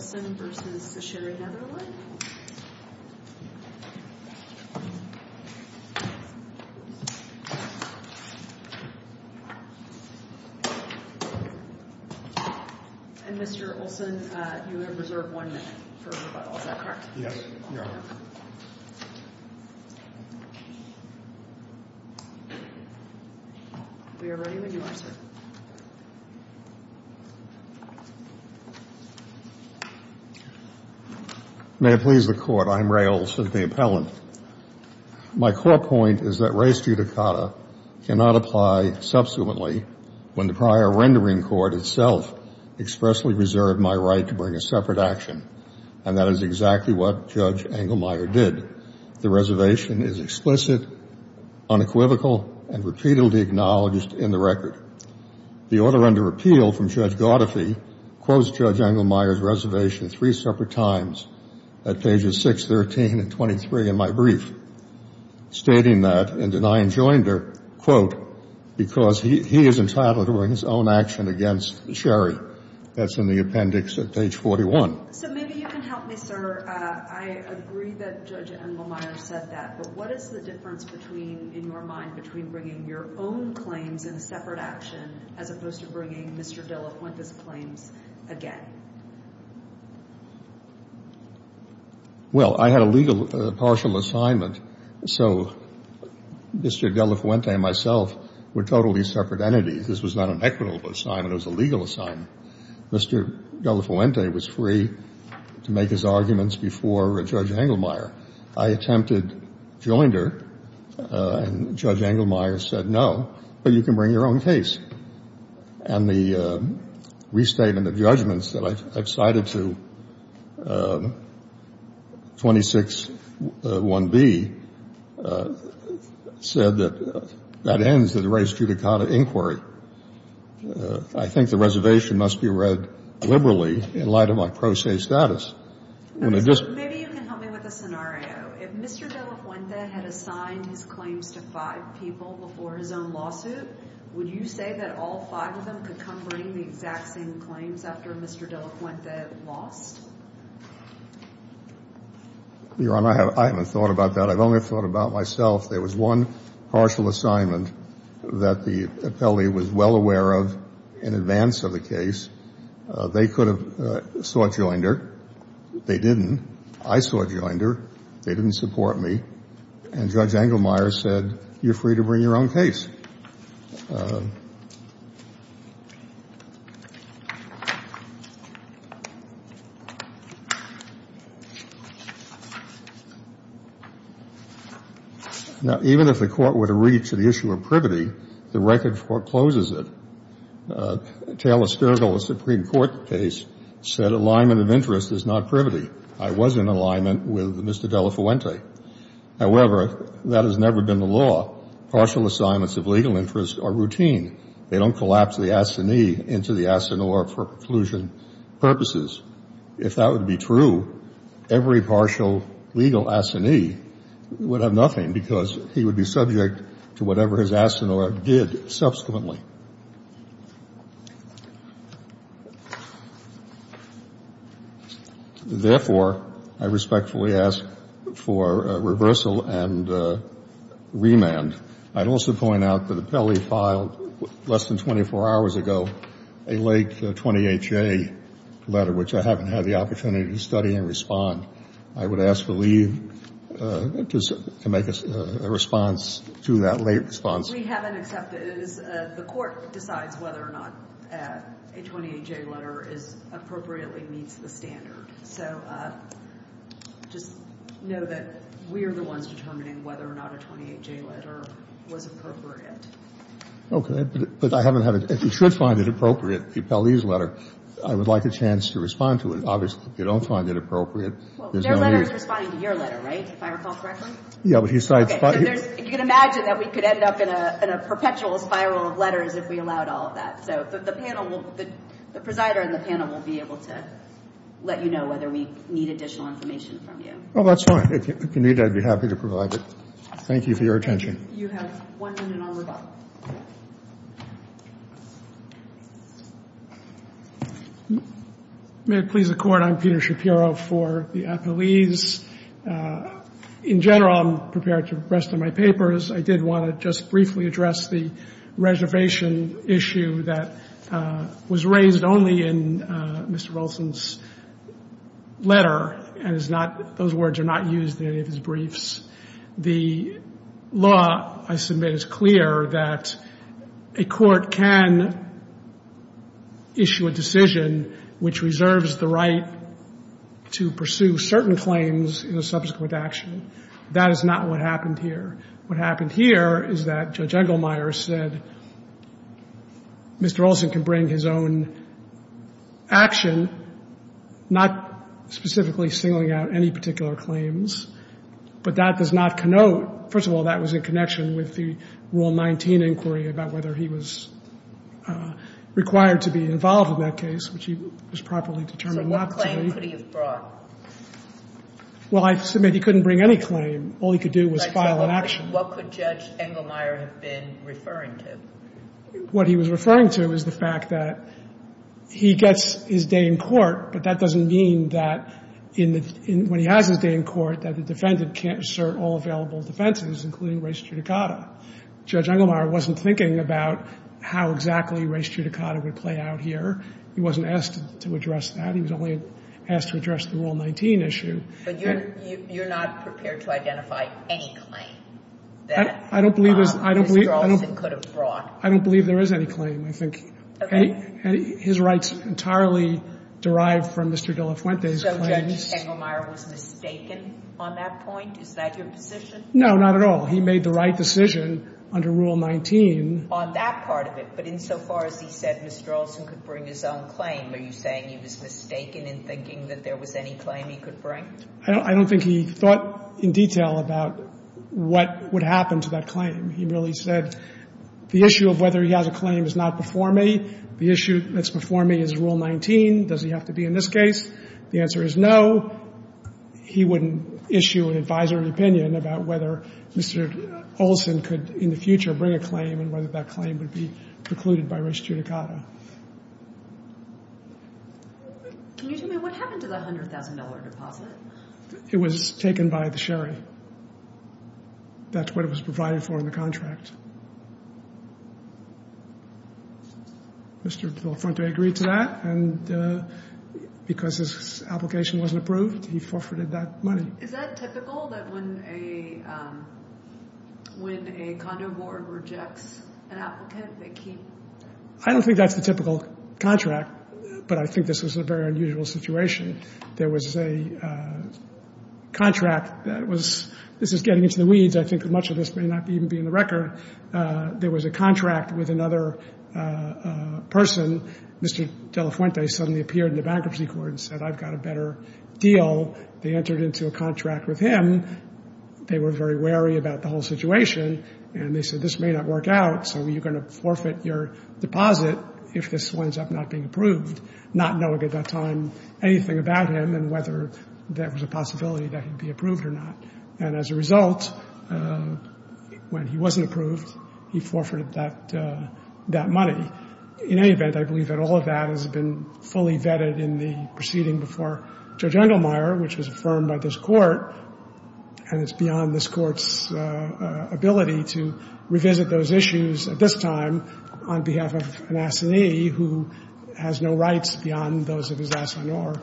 And Mr. Olsen, you are reserved one minute for rebuttals, is that correct? Yes, ma'am. We are ready when you are, sir. May it please the Court, I am Ray Olsen, the appellant. My core point is that race judicata cannot apply subsequently when the prior rendering court itself expressly reserved my right to bring a separate action. And that is exactly what Judge Engelmeyer did. The reservation is explicit, unequivocal, and repeatedly acknowledged in the record. The order under appeal from Judge Godefrey quotes Judge Engelmeyer's reservation three separate times at pages 6, 13, and 23 in my brief, stating that in denying Joinder, quote, because he is entitled to bring his own action against Sherry. That's in the appendix at page 41. So maybe you can help me, sir. I agree that Judge Engelmeyer said that. But what is the difference between, in your mind, between bringing your own claims in a separate action as opposed to bringing Mr. Delafuente's claims again? Well, I had a legal partial assignment. So Mr. Delafuente and myself were totally separate entities. This was not an equitable assignment. It was a legal assignment. Mr. Delafuente was free to make his arguments before Judge Engelmeyer. I attempted Joinder, and Judge Engelmeyer said, no, but you can bring your own case. And the restatement of judgments that I've cited to 26.1b said that that ends the res judicata inquiry. I think the reservation must be read liberally in light of my pro se status. Maybe you can help me with a scenario. If Mr. Delafuente had assigned his claims to five people before his own lawsuit, would you say that all five of them could come bring the exact same claims after Mr. Delafuente lost? Your Honor, I haven't thought about that. I've only thought about myself. There was one partial assignment that the appellee was well aware of in advance of the case. They could have sought Joinder. They didn't. I sought Joinder. They didn't support me. And Judge Engelmeyer said, you're free to bring your own case. Now, even if the Court were to reach the issue of privity, the record forecloses it. Taylor Sturgill, a Supreme Court case, said alignment of interest is not privity. I was in alignment with Mr. Delafuente. However, that has never been the law. All partial assignments of legal interest are routine. They don't collapse the assignee into the assinore for preclusion purposes. If that were to be true, every partial legal assignee would have nothing because he would be subject to whatever his assinore did subsequently. Therefore, I respectfully ask for reversal and remand. I'd also point out that appellee filed less than 24 hours ago a late 20HA letter, which I haven't had the opportunity to study and respond. I would ask for leave to make a response to that late response. What we haven't accepted is the Court decides whether or not a 28J letter is appropriately meets the standard. So just know that we are the ones determining whether or not a 28J letter was appropriate. Okay. But I haven't had it. If you should find it appropriate, the appellee's letter, I would like a chance to respond to it. Obviously, if you don't find it appropriate, there's no need. Well, their letter is responding to your letter, right, if I recall correctly? Yeah. Okay. You can imagine that we could end up in a perpetual spiral of letters if we allowed all of that. So the panel will be able to let you know whether we need additional information from you. Oh, that's fine. If you need it, I'd be happy to provide it. Thank you for your attention. You have one minute on rebuttal. May it please the Court? I'm Peter Shapiro for the appellees. In general, I'm prepared for the rest of my papers. I did want to just briefly address the reservation issue that was raised only in Mr. Wilson's letter and is not — those words are not used in any of his briefs. The law, I submit, is clear that a court can issue a decision which reserves the right to pursue certain claims in a subsequent action. That is not what happened here. What happened here is that Judge Engelmeyer said Mr. Wilson can bring his own action, not specifically singling out any particular claims. But that does not connote — first of all, that was in connection with the Rule 19 inquiry about whether he was required to be involved in that case, which he was properly determined not to be. So what claim could he have brought? Well, I submit he couldn't bring any claim. All he could do was file an action. What could Judge Engelmeyer have been referring to? What he was referring to is the fact that he gets his day in court, but that doesn't mean that when he has his day in court that the defendant can't assert all available defenses, including res judicata. Judge Engelmeyer wasn't thinking about how exactly res judicata would play out here. He wasn't asked to address that. He was only asked to address the Rule 19 issue. But you're not prepared to identify any claim that Mr. Wilson could have brought? I don't believe there is any claim. I think his rights entirely derive from Mr. De La Fuente's claims. So Judge Engelmeyer was mistaken on that point? Is that your position? No, not at all. He made the right decision under Rule 19. On that part of it, but insofar as he said Mr. Olson could bring his own claim, are you saying he was mistaken in thinking that there was any claim he could bring? I don't think he thought in detail about what would happen to that claim. He really said the issue of whether he has a claim is not before me. The issue that's before me is Rule 19. Does he have to be in this case? The answer is no. He wouldn't issue an advisory opinion about whether Mr. Olson could in the future bring a claim and whether that claim would be precluded by res judicata. Can you tell me what happened to the $100,000 deposit? It was taken by the sherry. That's what it was provided for in the contract. Mr. De La Fuente agreed to that, and because his application wasn't approved, he forfeited that money. Is that typical, that when a condo board rejects an applicant, they keep? I don't think that's the typical contract, but I think this was a very unusual situation. There was a contract that was getting into the weeds. I think much of this may not even be in the record. There was a contract with another person. Mr. De La Fuente suddenly appeared in the bankruptcy court and said, I've got a better deal. They entered into a contract with him. They were very wary about the whole situation, and they said this may not work out, so you're going to forfeit your deposit if this winds up not being approved, not knowing at that time anything about him and whether there was a possibility that he'd be approved or not. And as a result, when he wasn't approved, he forfeited that money. In any event, I believe that all of that has been fully vetted in the proceeding before Judge Endelmeyer, which was affirmed by this Court, and it's beyond this Court's ability to revisit those issues at this time on behalf of an assignee who has no rights beyond those of his assignor,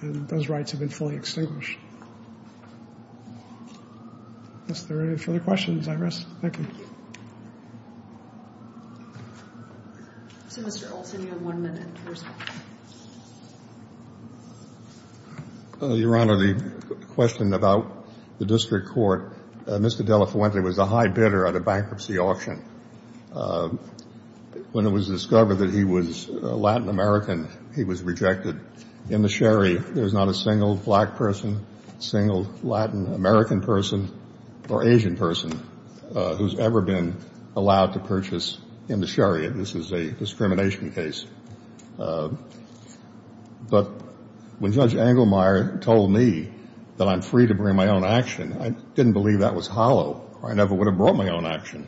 and those rights have been fully extinguished. Unless there are any further questions, I rest. Thank you. So, Mr. Olson, you have one minute. Your Honor, the question about the district court, Mr. De La Fuente was a high bidder at a bankruptcy auction. When it was discovered that he was Latin American, he was rejected. In the sherry, there's not a single black person, single Latin American person, or Asian person who's ever been allowed to purchase in the sherry. This is a discrimination case. But when Judge Endelmeyer told me that I'm free to bring my own action, I didn't believe that was hollow or I never would have brought my own action.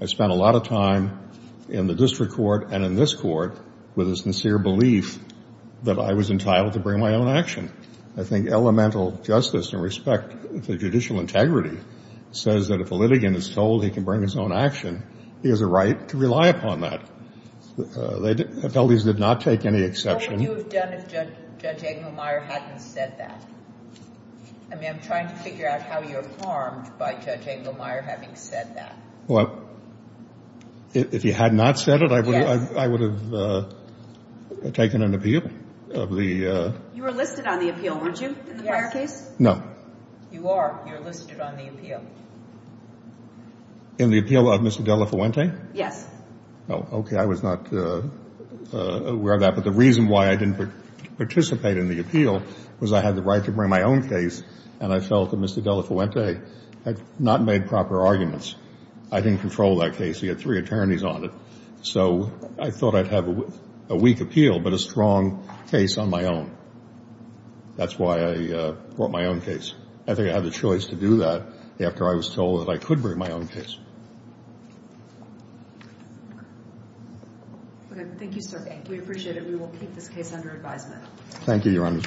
I spent a lot of time in the district court and in this court with a sincere belief that I was entitled to bring my own action. And I think elemental justice and respect for judicial integrity says that if a litigant is told he can bring his own action, he has a right to rely upon that. They did not take any exception. What would you have done if Judge Endelmeyer hadn't said that? I mean, I'm trying to figure out how you're harmed by Judge Endelmeyer having said that. Well, if he had not said it, I would have taken an appeal of the ---- You were listed on the appeal, weren't you, in the prior case? No. You are. You're listed on the appeal. In the appeal of Mr. De La Fuente? Yes. Oh, okay. I was not aware of that. But the reason why I didn't participate in the appeal was I had the right to bring my own case and I felt that Mr. De La Fuente had not made proper arguments. I didn't control that case. He had three attorneys on it. So I thought I'd have a weak appeal but a strong case on my own. That's why I brought my own case. I think I had a choice to do that after I was told that I could bring my own case. Okay. Thank you, sir. Thank you. We appreciate it. We will keep this case under advisement. Thank you, Your Honor.